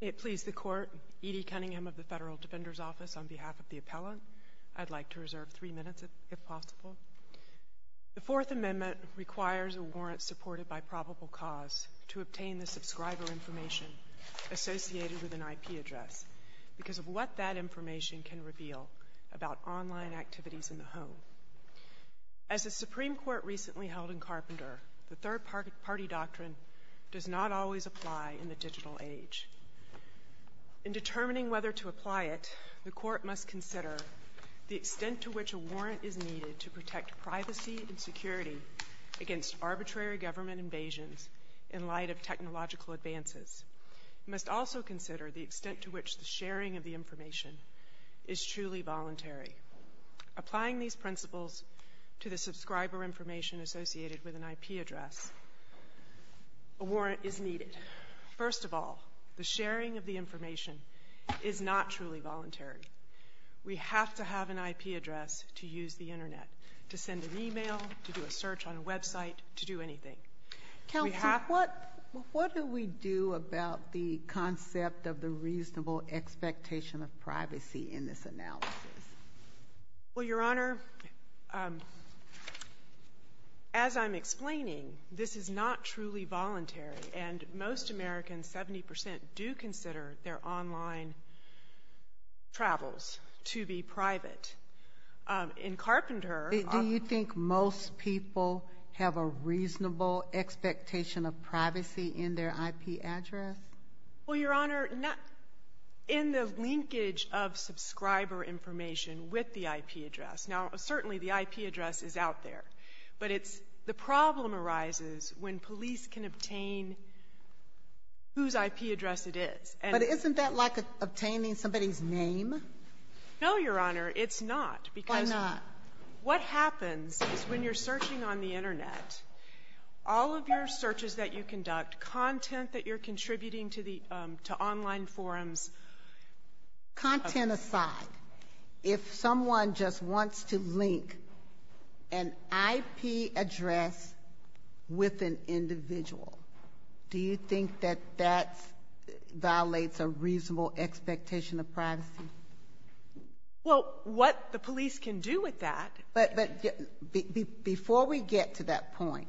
It please the Court, Edie Cunningham of the Federal Defender's Office, on behalf of the Appellant. I'd like to reserve three minutes, if possible. The Fourth Amendment requires a warrant supported by probable cause to obtain the subscriber information associated with an IP address because of what that information can reveal about online activities in the home. As the Supreme Court recently held in Carpenter, the third-party doctrine does not always apply in the digital age. In determining whether to apply it, the Court must consider the extent to which a warrant is needed to protect privacy and security against arbitrary government invasions in light of technological advances. It must also consider the extent to which the sharing of the information is truly voluntary. Applying these principles to the subscriber information associated with an IP address, a warrant is needed. First of all, the sharing of the information is not truly voluntary. We have to have an IP address to use the Internet, to send an email, to do a search on a website, to do anything. We have— Well, Your Honor, as I'm explaining, this is not truly voluntary, and most Americans, 70 percent, do consider their online travels to be private. In Carpenter— Do you think most people have a reasonable expectation of privacy in their IP address? Well, Your Honor, in the linkage of subscriber information with the IP address—now, certainly, the IP address is out there, but it's—the problem arises when police can obtain whose IP address it is. But isn't that like obtaining somebody's name? No, Your Honor, it's not, because— Why not? What happens is when you're searching on the Internet, all of your searches that you conduct, content that you're contributing to online forums— Content aside, if someone just wants to link an IP address with an individual, do you think that that violates a reasonable expectation of privacy? Well, what the police can do with that— But before we get to that point,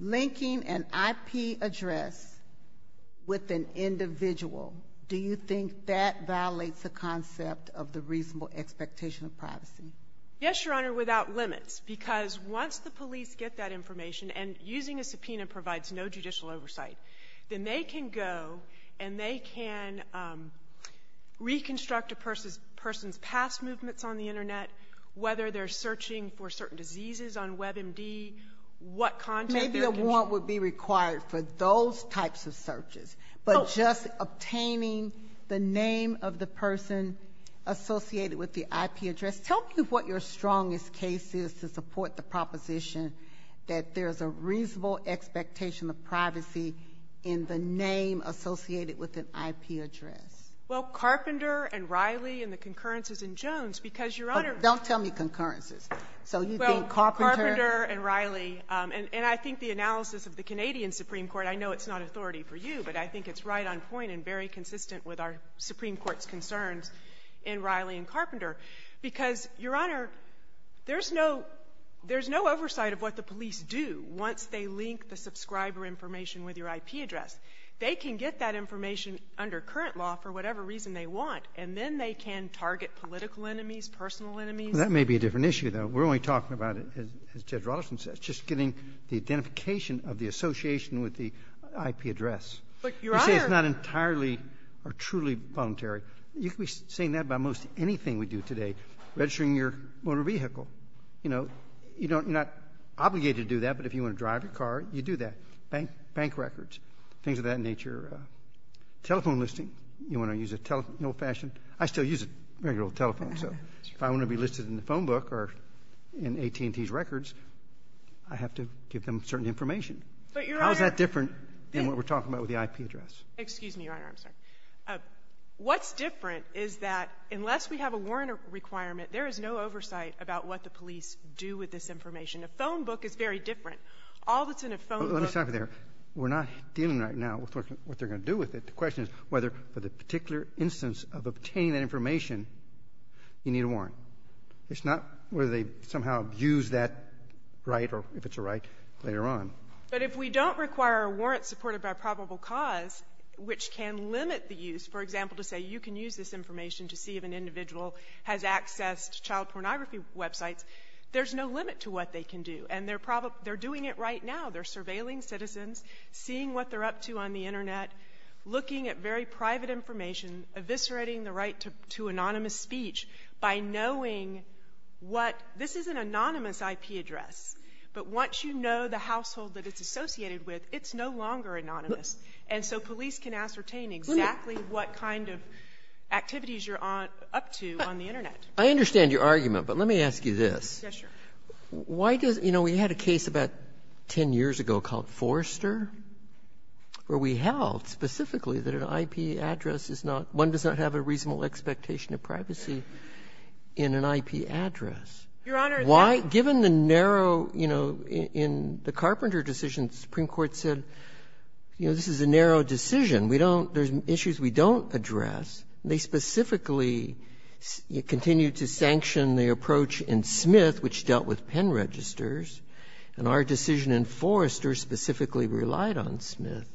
linking an IP address with an individual, do you think that violates the concept of the reasonable expectation of privacy? Yes, Your Honor, without limits, because once the police get that information, and using a subpoena provides no judicial oversight, then they can go and they can reconstruct a person's past movements on the Internet, whether they're searching for certain diseases on WebMD, what content they're— Maybe a warrant would be required for those types of searches, but just obtaining the name of the person associated with the IP address—tell me what your strongest case is to support the proposition that there's a reasonable expectation of privacy in the name associated with an IP address. Well, Carpenter and Riley and the concurrences in Jones, because, Your Honor— Don't tell me concurrences. So you think Carpenter— Well, Carpenter and Riley, and I think the analysis of the Canadian Supreme Court—I know it's not authority for you, but I think it's right on point and very consistent with our Supreme Court's concerns in Riley and Carpenter, because, Your Honor, there's no oversight of what the police do once they link the subscriber information with your IP address. They can get that information under current law for whatever reason they want, and then they can target political enemies, personal enemies. Well, that may be a different issue, though. We're only talking about, as Judge Rollison said, just getting the identification of the association with the IP address. But, Your Honor— You say it's not entirely or truly voluntary. You could be saying that about most anything we do today, registering your motor vehicle. You know, you're not obligated to do that, but if you want to drive a car, you do that. Bank records, things of that nature. Telephone listing. You want to use a telephone in an old-fashioned—I still use a regular old telephone, so if I want to be listed in the phone book or in AT&T's records, I have to give them certain information. But, Your Honor— How is that different than what we're talking about with the IP address? Excuse me, Your Honor, I'm sorry. What's different is that unless we have a warrant requirement, there is no oversight about what the police do with this information. A phone book is very different. All that's in a phone book— Let me stop you there. We're not dealing right now with what they're going to do with it. The question is whether, for the particular instance of obtaining that information, you need a warrant. It's not whether they somehow abuse that right, or if it's a right, later on. But if we don't require a warrant supported by probable cause, which can limit the use, for example, to say you can use this information to see if an individual has accessed child pornography websites, there's no limit to what they can do, and they're doing it right now. They're surveilling citizens, seeing what they're up to on the Internet, looking at very private information, eviscerating the right to anonymous speech by knowing what — this is an anonymous IP address, but once you know the household that it's associated with, it's no longer anonymous. And so police can ascertain exactly what kind of activities you're up to on the Internet. I understand your argument, but let me ask you this. Yes, Your Honor. Why does — you know, we had a case about 10 years ago called Forrester, where we held specifically that an IP address is not — one does not have a reasonable expectation of privacy in an IP address. Why, given the narrow — you know, in the Carpenter decision, the Supreme Court said, you know, this is a narrow decision, we don't — there's issues we don't address, and they specifically continue to sanction the approach in Smith, which dealt with pen registers. And our decision in Forrester specifically relied on Smith.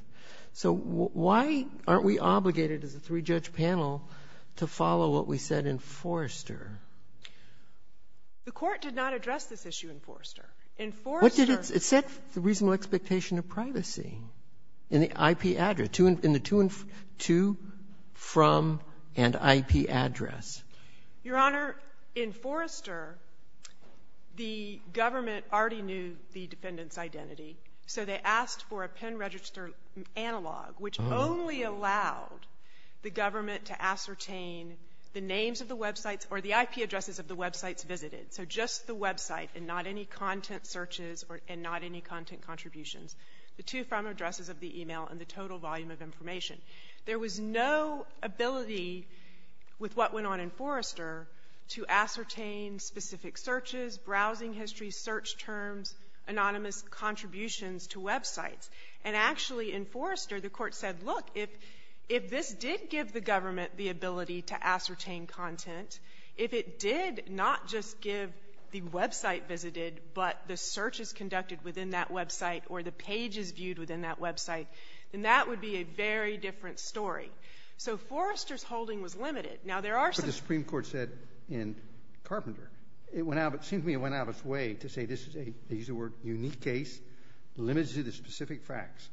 So why aren't we obligated, as a three-judge panel, to follow what we said in Forrester? The Court did not address this issue in Forrester. In Forrester — What did it — it said the reasonable expectation of privacy in the IP address — in the to and — to, from, and IP address. Your Honor, in Forrester, the government already knew the defendant's identity. So they asked for a pen register analog, which only allowed the government to ascertain the names of the websites or the IP addresses of the websites visited. So just the website and not any content searches or — and not any content contributions. The to, from addresses of the email and the total volume of information. There was no ability, with what went on in Forrester, to ascertain specific searches, browsing history, search terms, anonymous contributions to websites. And actually, in Forrester, the Court said, look, if this did give the government the ability to ascertain content, if it did not just give the website visited, but the searches conducted within that website or the pages viewed within that website, then that would be a very different story. So Forrester's holding was limited. Now there are some — But the Supreme Court said in Carpenter, it went out — it seemed to me it went out of its way to say this is a — they use the word unique case, limited to the specific facts.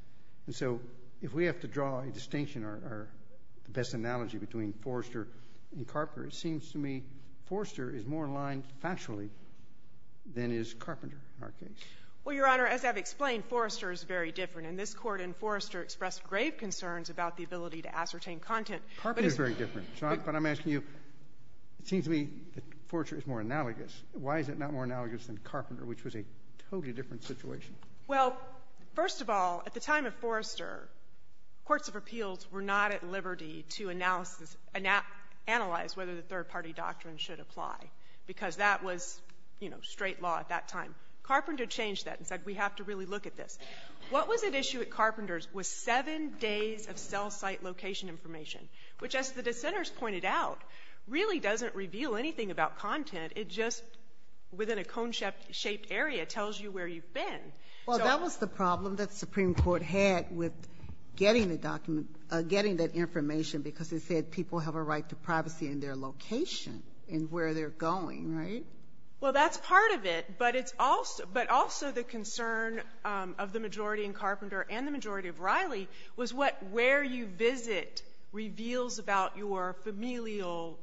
And so if we have to draw a distinction or the best analogy between Forrester and Carpenter, it seems to me Forrester is more in line factually than is Carpenter in our case. Well, Your Honor, as I've explained, Forrester is very different. And this Court in Forrester expressed grave concerns about the ability to ascertain content. Carpenter is very different. But I'm asking you, it seems to me that Forrester is more analogous. Why is it not more analogous than Carpenter, which was a totally different situation? Well, first of all, at the time of Forrester, courts of appeals were not at liberty to analyze whether the third-party doctrine should apply, because that was, you know, straight law at that time. Carpenter changed that and said we have to really look at this. What was at issue at Carpenter's was seven days of cell site location information, which as the dissenters pointed out, really doesn't reveal anything about content. It just, within a cone-shaped area, tells you where you've been. Well, that was the problem that the Supreme Court had with getting the document, getting that information, because they said people have a right to privacy in their location and where they're going, right? Well, that's part of it, but also the concern of the majority in Carpenter and the majority of Riley was what where you visit reveals about your familial,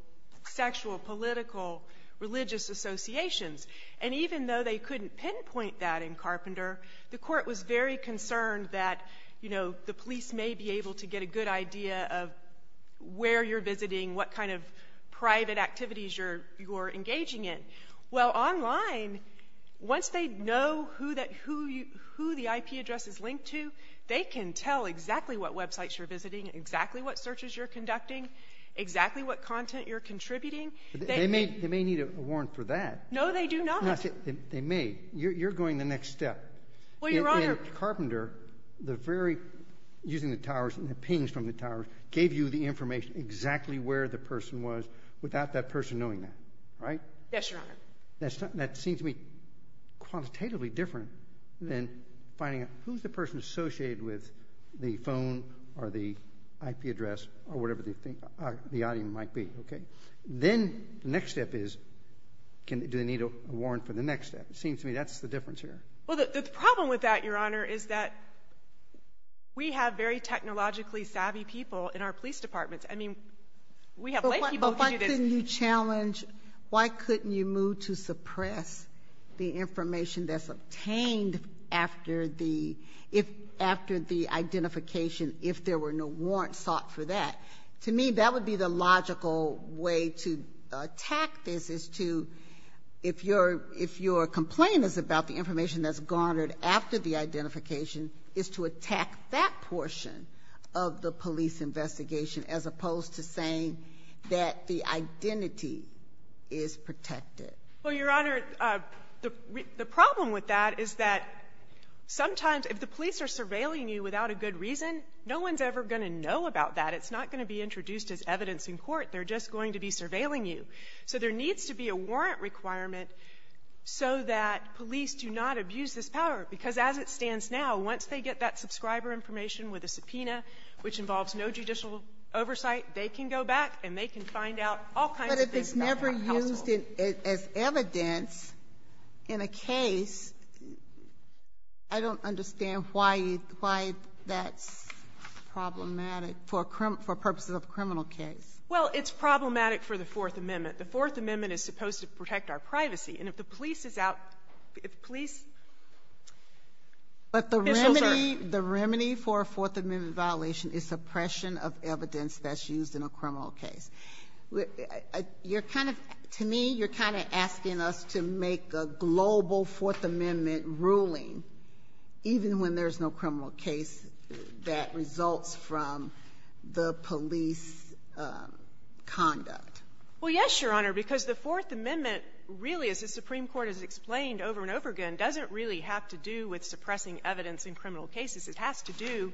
sexual, political, religious associations. And even though they couldn't pinpoint that in Carpenter, the court was very concerned that, you know, the police may be able to get a good idea of where you're visiting, what kind of private activities you're engaging in. Well, online, once they know who the IP address is linked to, they can tell exactly what websites you're visiting, exactly what searches you're conducting, exactly what content you're contributing. They may need a warrant for that. No, they do not. No, they may. You're going the next step. Well, Your Honor. In Carpenter, the very, using the towers and the pings from the towers, gave you the information exactly where the person was without that person knowing that, right? Yes, Your Honor. That seems to me qualitatively different than finding out who's the person associated with the phone or the IP address or whatever the audience might be, okay? Then the next step is, do they need a warrant for the next step? It seems to me that's the difference here. Well, the problem with that, Your Honor, is that we have very technologically savvy people in our police departments. I mean, we have lay people who can do this. But why couldn't you challenge, why couldn't you move to suppress the information that's obtained after the identification if there were no warrants sought for that? To me, that would be the logical way to attack this, is to, if your complaint is about the information that's garnered after the identification, is to attack that portion of the police investigation as opposed to saying that the identity is protected. Well, Your Honor, the problem with that is that sometimes if the police are surveilling you without a good reason, no one's ever going to know about that. It's not going to be introduced as evidence in court. They're just going to be surveilling you. So there needs to be a warrant requirement so that police do not abuse this power. Because as it stands now, once they get that subscriber information with a subpoena, which involves no judicial oversight, they can go back and they can find out all kinds of things about my household. But if it's never used as evidence in a case, I don't understand why that's problematic for purposes of a criminal case. Well, it's problematic for the Fourth Amendment. The Fourth Amendment is supposed to protect our privacy. And if the police is out, if police... But the remedy for a Fourth Amendment violation is suppression of evidence that's used in a criminal case. You're kind of, to me, you're kind of asking us to make a global Fourth Amendment ruling even when there's no criminal case that results from the police conduct. Well, yes, Your Honor, because the Fourth Amendment really, as the Supreme Court has said, is suppressing evidence in criminal cases. It has to do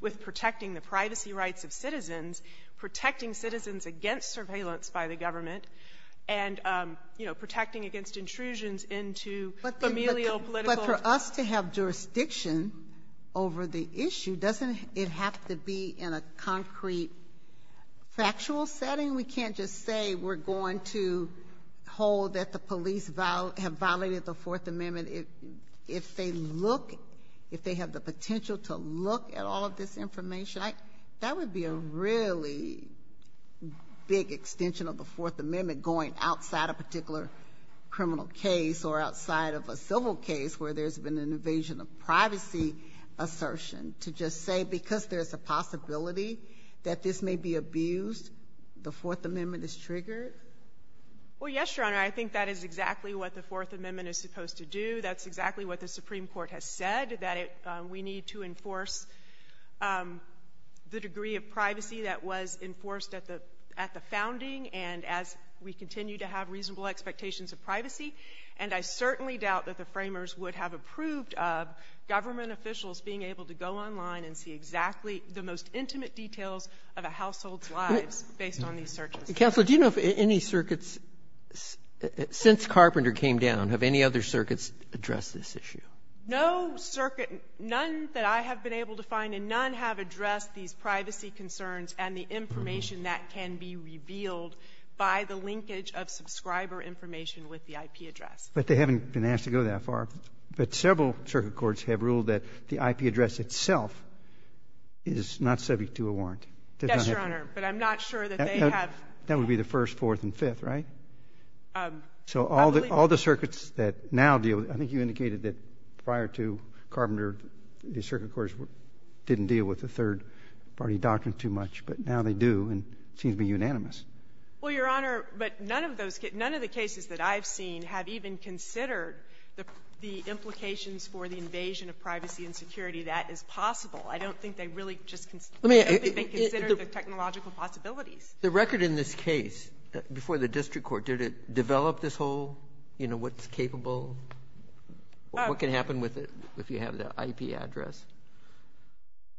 with protecting the privacy rights of citizens, protecting citizens against surveillance by the government, and, you know, protecting against intrusions into familial, political... But for us to have jurisdiction over the issue, doesn't it have to be in a concrete, factual setting? We can't just say we're going to hold that the police have violated the Fourth Amendment if they look, if they have the potential to look at all of this information. That would be a really big extension of the Fourth Amendment going outside a particular criminal case or outside of a civil case where there's been an invasion of privacy assertion to just say because there's a possibility that this may be abused, the Fourth Amendment is triggered? Well, yes, Your Honor, I think that is exactly what the Fourth Amendment is supposed to do. That's exactly what the Supreme Court has said, that we need to enforce the degree of privacy that was enforced at the founding and as we continue to have reasonable expectations of privacy. And I certainly doubt that the Framers would have approved of government officials being able to go online and see exactly the most intimate details of a household's lives based on these searches. Counsel, do you know if any circuits, since Carpenter came down, have any other circuits addressed this issue? No circuit, none that I have been able to find, and none have addressed these privacy concerns and the information that can be revealed by the linkage of subscriber information with the IP address. But they haven't been asked to go that far. But several circuit courts have ruled that the IP address itself is not subject to a warrant. Yes, Your Honor, but I'm not sure that they have. That would be the First, Fourth, and Fifth, right? So all the circuits that now deal with it, I think you indicated that prior to Carpenter, the circuit courts didn't deal with the third-party doctrine too much. But now they do, and it seems to be unanimous. Well, Your Honor, but none of those cases, none of the cases that I've seen have even considered the implications for the invasion of privacy and security that is possible. I don't think they really just consider the technological possibilities. The record in this case, before the district court, did it develop this whole, you know, what's capable, what can happen with it if you have the IP address?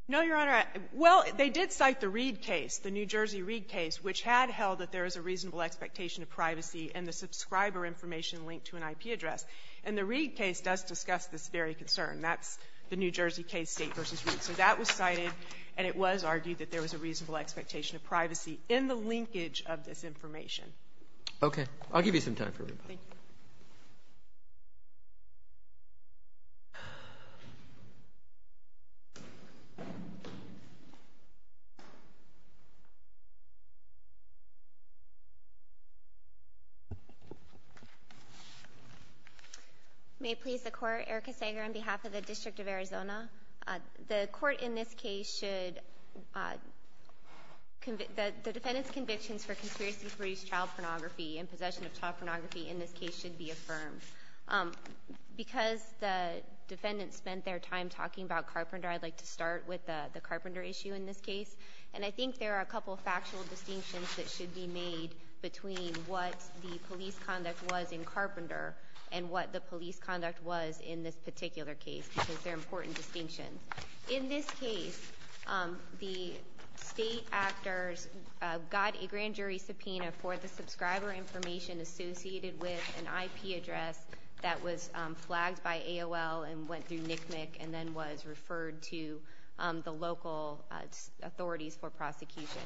No, Your Honor. Well, they did cite the Reed case, the New Jersey Reed case, which had held that there is a reasonable expectation of privacy and the subscriber information linked to an IP address. And the Reed case does discuss this very concern. That's the New Jersey case, State v. Reed. So that was cited, and it was argued that there was a reasonable expectation of privacy in the linkage of this information. Okay, I'll give you some time for rebuttal. Thank you. May it please the Court, Erica Sager on behalf of the District of Arizona. The court in this case should, the defendant's convictions for conspiracy to produce child pornography and possession of child pornography in this case should be affirmed. Because the defendant spent their time talking about Carpenter, I'd like to start with the Carpenter issue in this case. And I think there are a couple of factual distinctions that should be made between what the police conduct was in Carpenter and what the police conduct was in this particular case. Because they're important distinctions. In this case, the state actors got a grand jury subpoena for the subscriber information associated with an IP address that was flagged by AOL and went through NCMEC and then was referred to the local authorities for prosecution.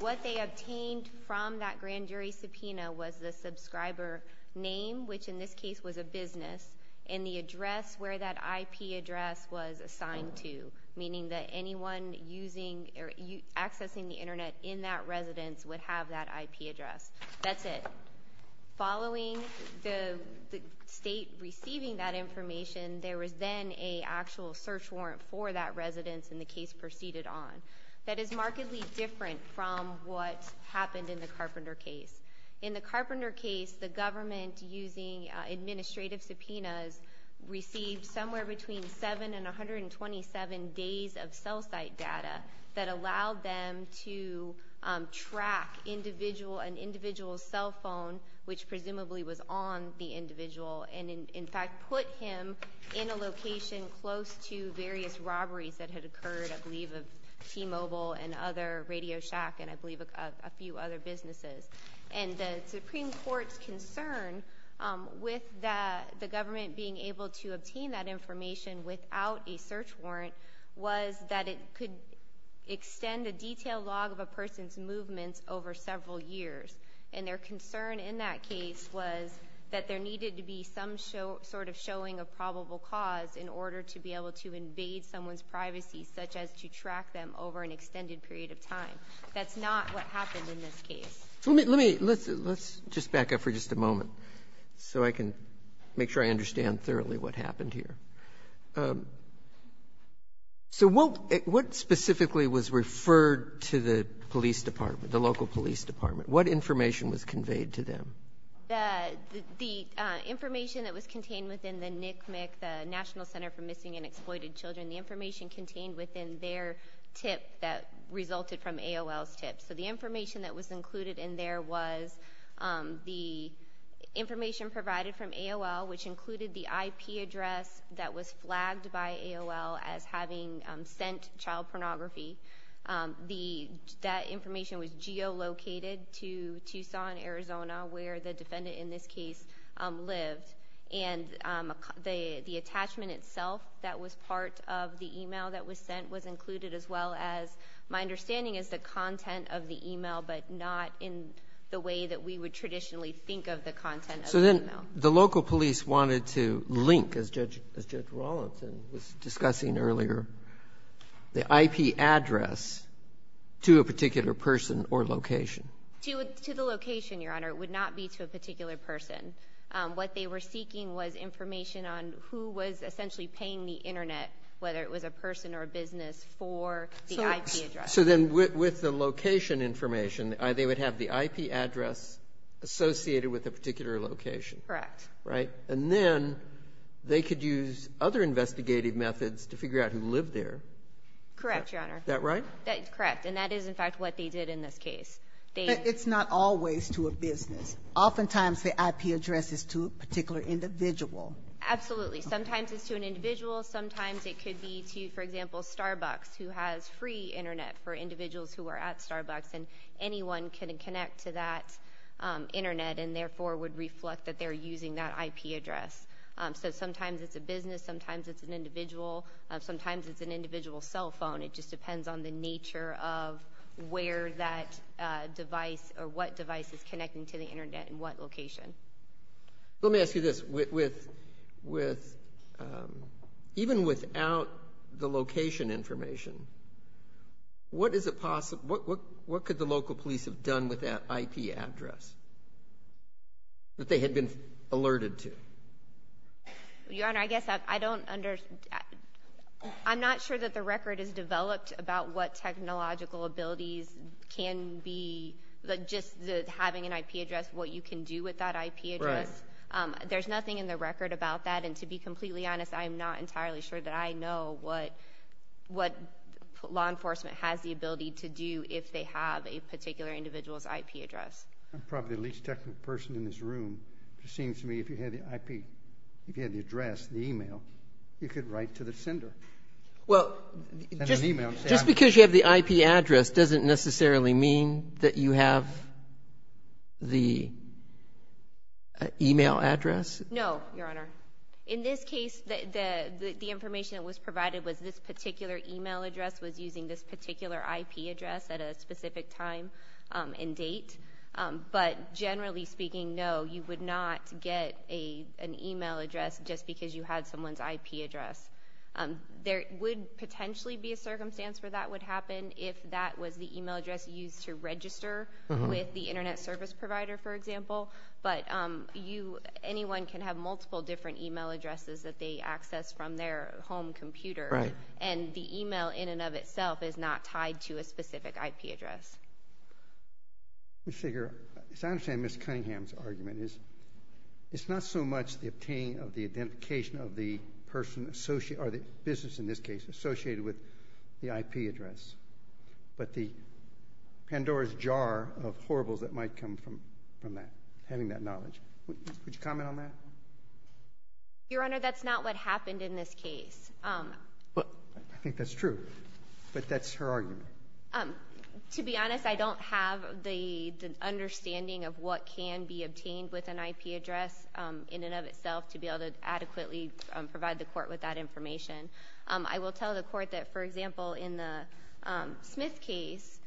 What they obtained from that grand jury subpoena was the subscriber name, which in this case was a business, and the address where that IP address was assigned to. Meaning that anyone accessing the Internet in that residence would have that IP address. That's it. Following the state receiving that information, there was then a actual search warrant for that residence and the case proceeded on. That is markedly different from what happened in the Carpenter case. In the Carpenter case, the government, using administrative subpoenas, received somewhere between seven and 127 days of cell site data that allowed them to track an individual's cell phone, which presumably was on the individual, and in fact put him in a location close to various robberies that had occurred, I believe, of T-Mobile and other Radio Shack and I believe a few other businesses. And the Supreme Court's concern with the government being able to obtain that information without a search warrant was that it could extend a detailed log of a person's movements over several years. And their concern in that case was that there needed to be some sort of showing a probable cause in order to be able to invade someone's privacy, such as to track them over an extended period of time. That's not what happened in this case. So let me, let's just back up for just a moment so I can make sure I understand thoroughly what happened here. So what specifically was referred to the police department, the local police department? What information was conveyed to them? The information that was contained within the NCMEC, the National Center for Missing and Exploited Children, the information contained within their tip that resulted from AOL's tip. So the information that was included in there was the information provided from AOL, which included the IP address that was flagged by AOL as having sent child pornography. That information was geolocated to Tucson, Arizona, where the defendant in this case lived. And the attachment itself that was part of the email that was sent was included as well as, my understanding is the content of the email, but not in the way that we would traditionally think of the content of the email. So then, the local police wanted to link, as Judge Rawlinson was discussing earlier, the IP address to a particular person or location? To the location, Your Honor. It would not be to a particular person. What they were seeking was information on who was essentially paying the internet, whether it was a person or a business, for the IP address. So then, with the location information, they would have the IP address associated with a particular location. Correct. Right? And then, they could use other investigative methods to figure out who lived there? Correct, Your Honor. That right? Correct. And that is, in fact, what they did in this case. It's not always to a business. Oftentimes, the IP address is to a particular individual. Absolutely. Sometimes it's to an individual. Sometimes it could be to, for example, Starbucks, who has free internet for individuals who are at Starbucks, and anyone can connect to that internet and therefore would reflect that they're using that IP address. So sometimes it's a business. Sometimes it's an individual. Sometimes it's an individual cell phone. It just depends on the nature of where that device or what device is connecting to the internet and what location. Let me ask you this, even without the location information, what could the local police have done with that IP address that they had been alerted to? Your Honor, I guess I don't understand. I'm not sure that the record is developed about what technological abilities can be, just having an IP address, what you can do with that IP address. Right. There's nothing in the record about that. And to be completely honest, I'm not entirely sure that I know what law enforcement has the ability to do if they have a particular individual's IP address. I'm probably the least technical person in this room, but it seems to me if you had the IP, if you had the address, the email, you could write to the sender. Well, just because you have the IP address doesn't necessarily mean that you have the email address. No, Your Honor. In this case, the information that was provided was this particular email address was using this particular IP address at a specific time and date. But generally speaking, no, you would not get an email address just because you had someone's IP address. There would potentially be a circumstance where that would happen if that was the email address used to register with the internet service provider, for example. But anyone can have multiple different email addresses that they access from their home computer. Right. And the email in and of itself is not tied to a specific IP address. Ms. Figueroa, as I understand Ms. Cunningham's argument, it's not so much the obtaining of the identification of the person associated, or the business in this case, associated with the IP address, but the Pandora's jar of horribles that might come from that, having that knowledge. Would you comment on that? Your Honor, that's not what happened in this case. But I think that's true. But that's her argument. To be honest, I don't have the understanding of what can be obtained with an IP address in and of itself to be able to adequately provide the court with that information. I will tell the court that, for example, in the Smith case,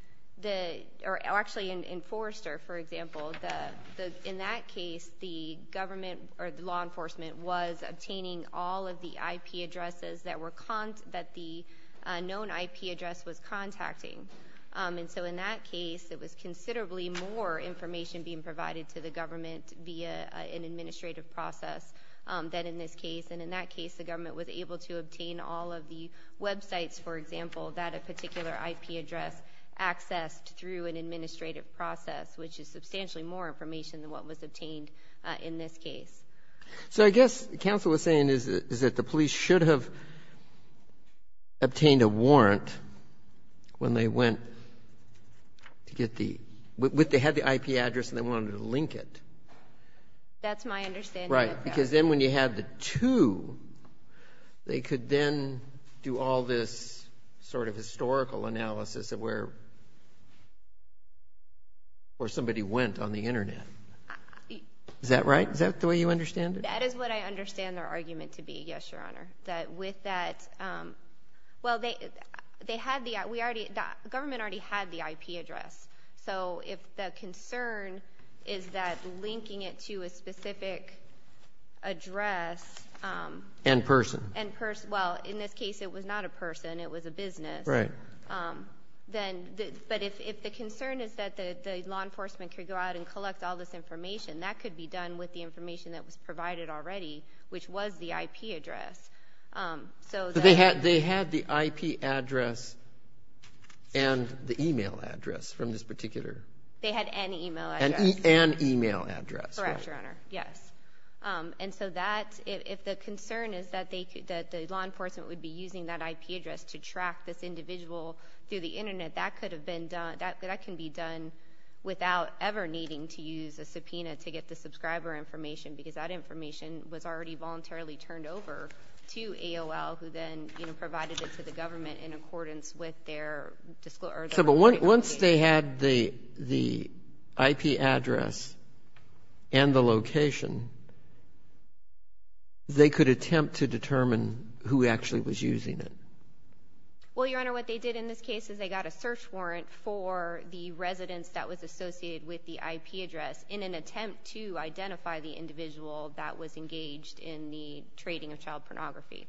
or actually in Forrester, for example, in that case, the government or the law enforcement was obtaining all of the IP addresses that the known IP address was contacted with. And so in that case, it was considerably more information being provided to the government via an administrative process than in this case. And in that case, the government was able to obtain all of the websites, for example, that a particular IP address accessed through an administrative process, which is substantially more information than what was obtained in this case. So I guess the counsel was saying is that the police should have obtained a warrant when they went to get the, when they had the IP address and they wanted to link it. That's my understanding. Right. Because then when you had the two, they could then do all this sort of historical analysis of where, where somebody went on the Internet. Is that right? Is that the way you understand it? That is what I understand their argument to be. Yes, Your Honor. That with that, well, they, they had the, we already, the government already had the IP address. So if the concern is that linking it to a specific address and person and person, well, in this case, it was not a person. It was a business. Right. Then, but if the concern is that the law enforcement could go out and collect all this information, that could be done with the information that was provided already, which was the IP address. So they had, they had the IP address and the email address from this particular. They had an email address. An email address. Correct, Your Honor. Yes. And so that, if the concern is that they could, that the law enforcement would be using that IP address to track this individual through the Internet, that could have been done, that, that can be done without ever needing to use a subpoena to get the subscriber information because that information was already voluntarily turned over to AOL, who then, you know, provided it to the government in accordance with their disclosure. So, but once they had the, the IP address and the location, they could attempt to determine who actually was using it. Well, Your Honor, what they did in this case is they got a search warrant for the residents that was associated with the IP address in an attempt to identify the individual that was engaged in the trading of child pornography.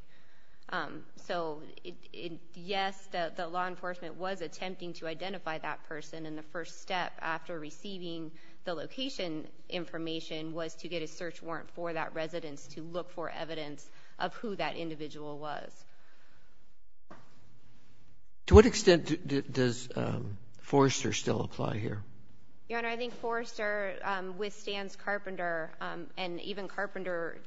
So it, yes, the law enforcement was attempting to identify that person, and the first step after receiving the location information was to get a search warrant for that residence to look for evidence of who that individual was. To what extent does Forrester still apply here? Your Honor, I think Forrester withstands Carpenter, and even Carpenter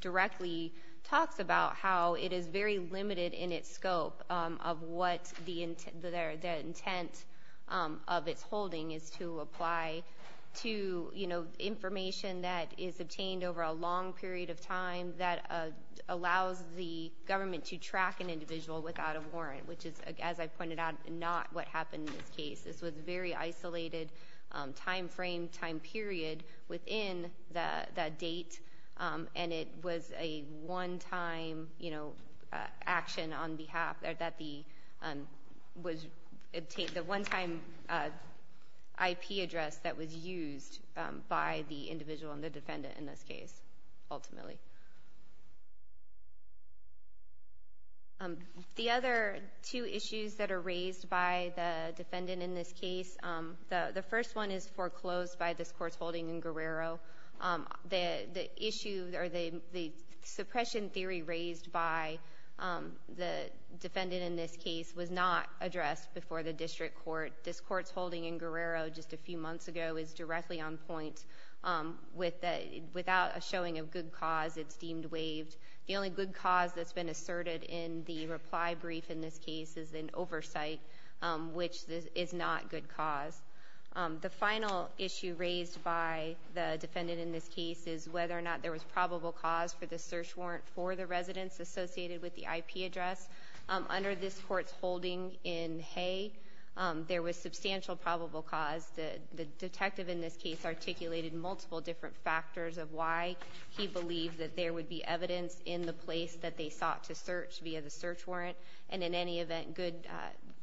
directly talks about how it is very limited in its scope of what the intent of its holding is to apply to, you know, information that is obtained over a long period of time that allows the government to track an individual without a warrant, which is, as I pointed out, not what happened in this case. This was a very isolated time frame, time period within the, the date, and it was a one-time, you know, action on behalf, or that the, was, the one-time IP address that was used by the individual and the defendant in this case, ultimately. The other two issues that are raised by the defendant in this case, the, the first one is foreclosed by this court's holding in Guerrero. The, the issue, or the, the suppression theory raised by the defendant in this case was not addressed before the district court. This court's holding in Guerrero just a few months ago is directly on point with the, without a showing of good cause, it's deemed waived. The only good cause that's been asserted in the reply brief in this case is an oversight, which is not good cause. The final issue raised by the defendant in this case is whether or not there was probable cause for the search warrant for the residents associated with the IP address. Under this court's holding in Hay, there was substantial probable cause. The, the detective in this case articulated multiple different factors of why he believed that there would be evidence in the place that they sought to search via the search warrant. And in any event, good,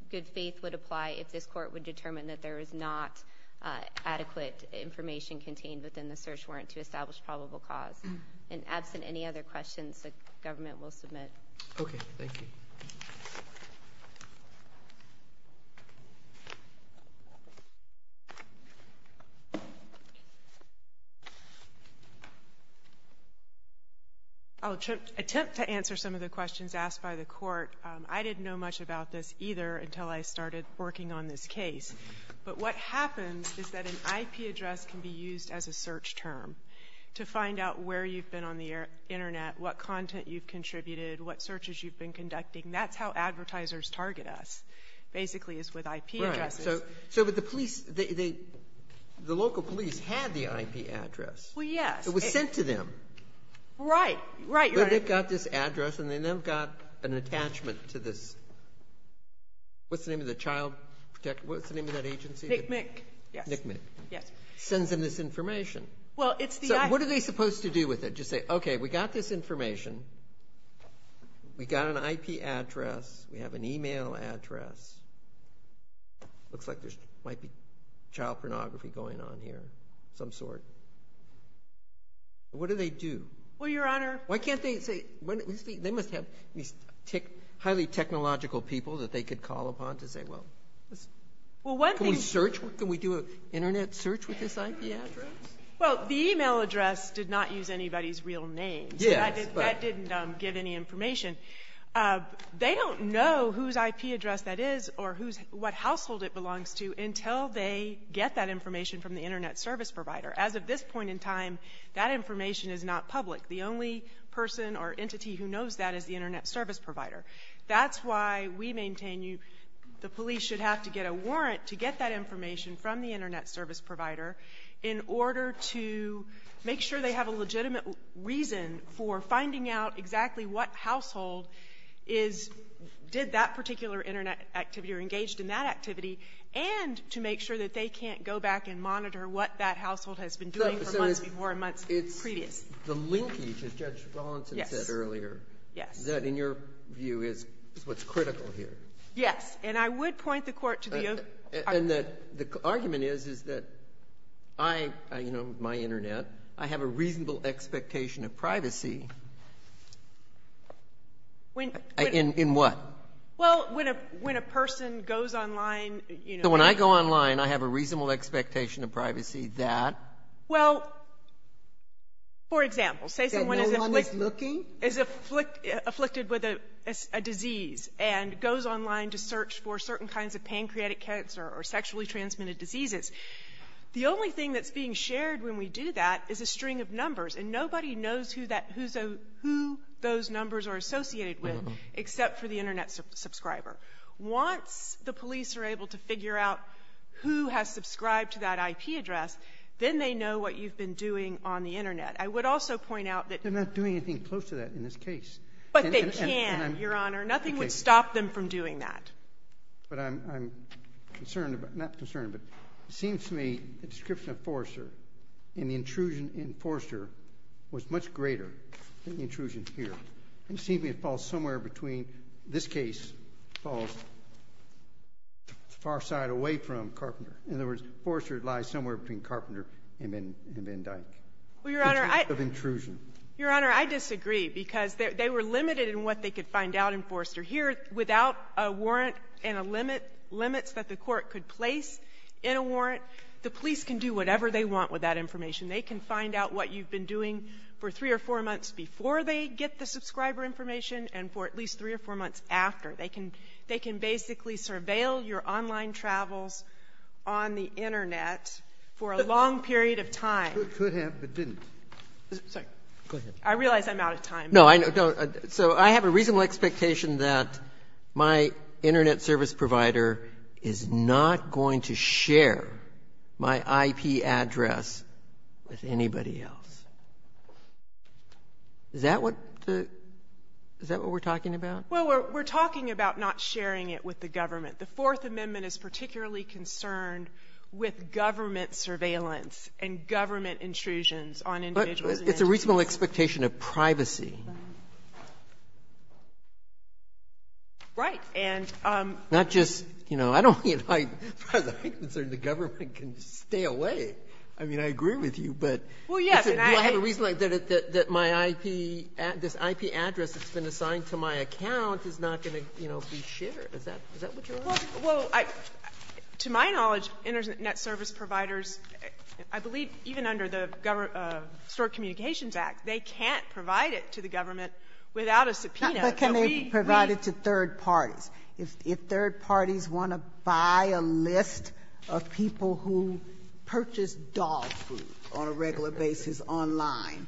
good faith would apply if this court would determine that there is not adequate information contained within the search warrant to establish probable cause. And absent any other questions, the government will submit. Okay, thank you. I'll attempt to answer some of the questions asked by the court. I didn't know much about this either until I started working on this case. But what happens is that an IP address can be used as a search term to find out where you've been on the internet, what content you've contributed, what searches you've been conducting. That's how advertisers target us, basically is with IP addresses. So, but the police, they, the local police had the IP address. Well, yes. It was sent to them. Right, right. But they've got this address and then they've got an attachment to this, what's the name of the child, what's the name of that agency? NCMIC. Yes. NCMIC. Yes. Sends them this information. Well, it's the IP. So, what are they supposed to do with it? Just say, okay, we've got this information, we've got an IP address, we have an email address. Looks like there might be child pornography going on here of some sort. What do they do? Well, Your Honor. Why can't they say, they must have these highly technological people that they could call upon to say, well, let's. Well, one thing. Can we search, can we do an internet search with this IP address? Well, the email address did not use anybody's real name. Yes, but. That didn't give any information. They don't know whose IP address that is or what household it belongs to until they get that information from the internet service provider. As of this point in time, that information is not public. The only person or entity who knows that is the internet service provider. That's why we maintain you, the police should have to get a warrant to get that information from the internet service provider. In order to make sure they have a legitimate reason for finding out exactly what household is, did that particular internet activity or engaged in that activity, and to make sure that they can't go back and monitor what that household has been doing for months before and months previous. The linkage, as Judge Rawlinson said earlier, that in your view is what's critical here. Yes, and I would point the court to the. And the argument is that I, you know, my internet, I have a reasonable expectation of privacy. In what? Well, when a person goes online. So when I go online, I have a reasonable expectation of privacy that. Well, for example, say someone is. That no one is looking? Is afflicted with a disease and goes online to search for certain kinds of pancreatic cancer or sexually transmitted diseases. The only thing that's being shared when we do that is a string of numbers and nobody knows who those numbers are associated with except for the internet subscriber. Once the police are able to figure out who has subscribed to that IP address, then they know what you've been doing on the internet. I would also point out that. They're not doing anything close to that in this case. But they can, Your Honor. Nothing would stop them from doing that. But I'm concerned about, not concerned, but it seems to me the description of Forrester and the intrusion in Forrester was much greater than the intrusion here. It seems to me it falls somewhere between, this case falls far side away from Carpenter. In other words, Forrester lies somewhere between Carpenter and Van Dyck. Well, Your Honor, I. Of intrusion. Your Honor, I disagree because they were limited in what they could find out in Forrester. Here, without a warrant and a limit, limits that the court could place in a warrant, the police can do whatever they want with that information. They can find out what you've been doing for three or four months before they get the subscriber information and for at least three or four months after. They can basically surveil your online travels on the internet for a long period of time. Could have, but didn't. Sorry. Go ahead. I realize I'm out of time. No, I don't. So I have a reasonable expectation that my internet service provider is not going to share my IP address with anybody else. Is that what the, is that what we're talking about? Well, we're talking about not sharing it with the government. The Fourth Amendment is particularly concerned with government surveillance and government intrusions on individuals. It's a reasonable expectation of privacy. Right. And. Not just, you know, I don't, as far as I'm concerned, the government can stay away. I mean, I agree with you, but. Well, yes, and I. Do I have a reason that my IP, this IP address that's been assigned to my account Is that what you're asking? Well, to my knowledge, internet service providers, I believe even under the store communications act, they can't provide it to the government without a subpoena. But can they provide it to third parties? If third parties want to buy a list of people who purchase dog food on a regular basis online,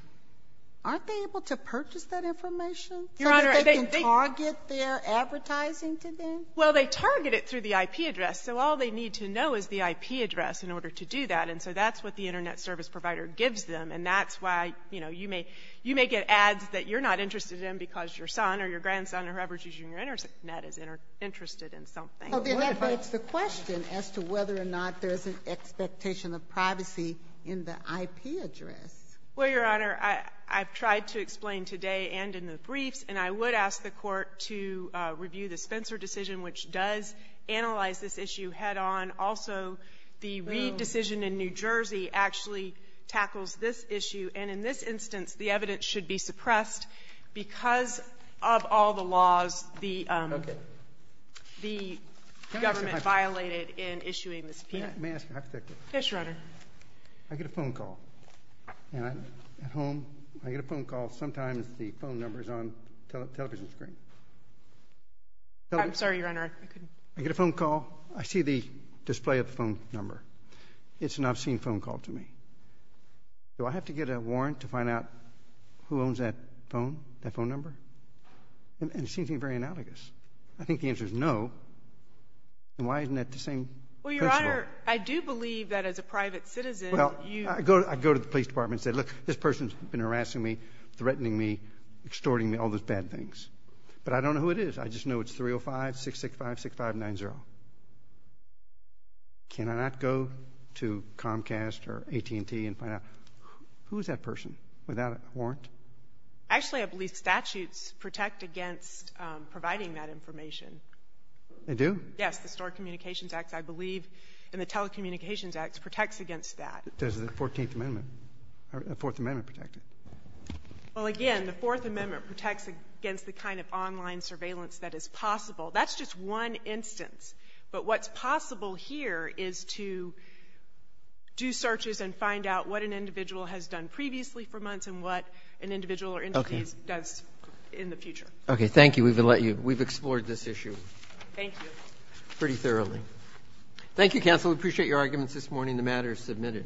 aren't they able to purchase that information? Your Honor. So that they can target their advertising to them? Well, they target it through the IP address. So all they need to know is the IP address in order to do that. And so that's what the internet service provider gives them. And that's why, you know, you may, you may get ads that you're not interested in because your son or your grandson or whoever's using your internet is interested in something. Well, then that begs the question as to whether or not there's an expectation of privacy in the IP address. Well, Your Honor, I, I've tried to explain today and in the briefs, and I would ask the court to review the Spencer decision, which does analyze this issue head on. Also, the Reed decision in New Jersey actually tackles this issue. And in this instance, the evidence should be suppressed because of all the laws the, um, the government violated in issuing the subpoena. May I ask a hypothetical? Yes, Your Honor. I get a phone call and I'm at home. I get a phone call. Sometimes the phone number's on television screen. I'm sorry, Your Honor, I couldn't. I get a phone call. I see the display of the phone number. It's an obscene phone call to me. Do I have to get a warrant to find out who owns that phone, that phone number? And it seems to be very analogous. I think the answer's no. And why isn't that the same principle? Well, Your Honor, I do believe that as a private citizen, you Well, I go, I go to the police department and say, look, this person's been harassing me, threatening me, extorting me, all those bad things. But I don't know who it is. I just know it's 305-665-6590. Can I not go to Comcast or AT&T and find out who is that person without a warrant? Actually, I believe statutes protect against providing that information. They do? Yes, the Stored Communications Act, I believe, and the Telecommunications Act protects against that. Does the Fourteenth Amendment or the Fourth Amendment protect it? Well, again, the Fourth Amendment protects against the kind of online surveillance that is possible. That's just one instance. But what's possible here is to do searches and find out what an individual has done previously for months and what an individual or entity does in the future. Okay. Thank you. We've explored this issue. Thank you. Pretty thoroughly. Thank you, counsel. We appreciate your arguments this morning. The matter is submitted.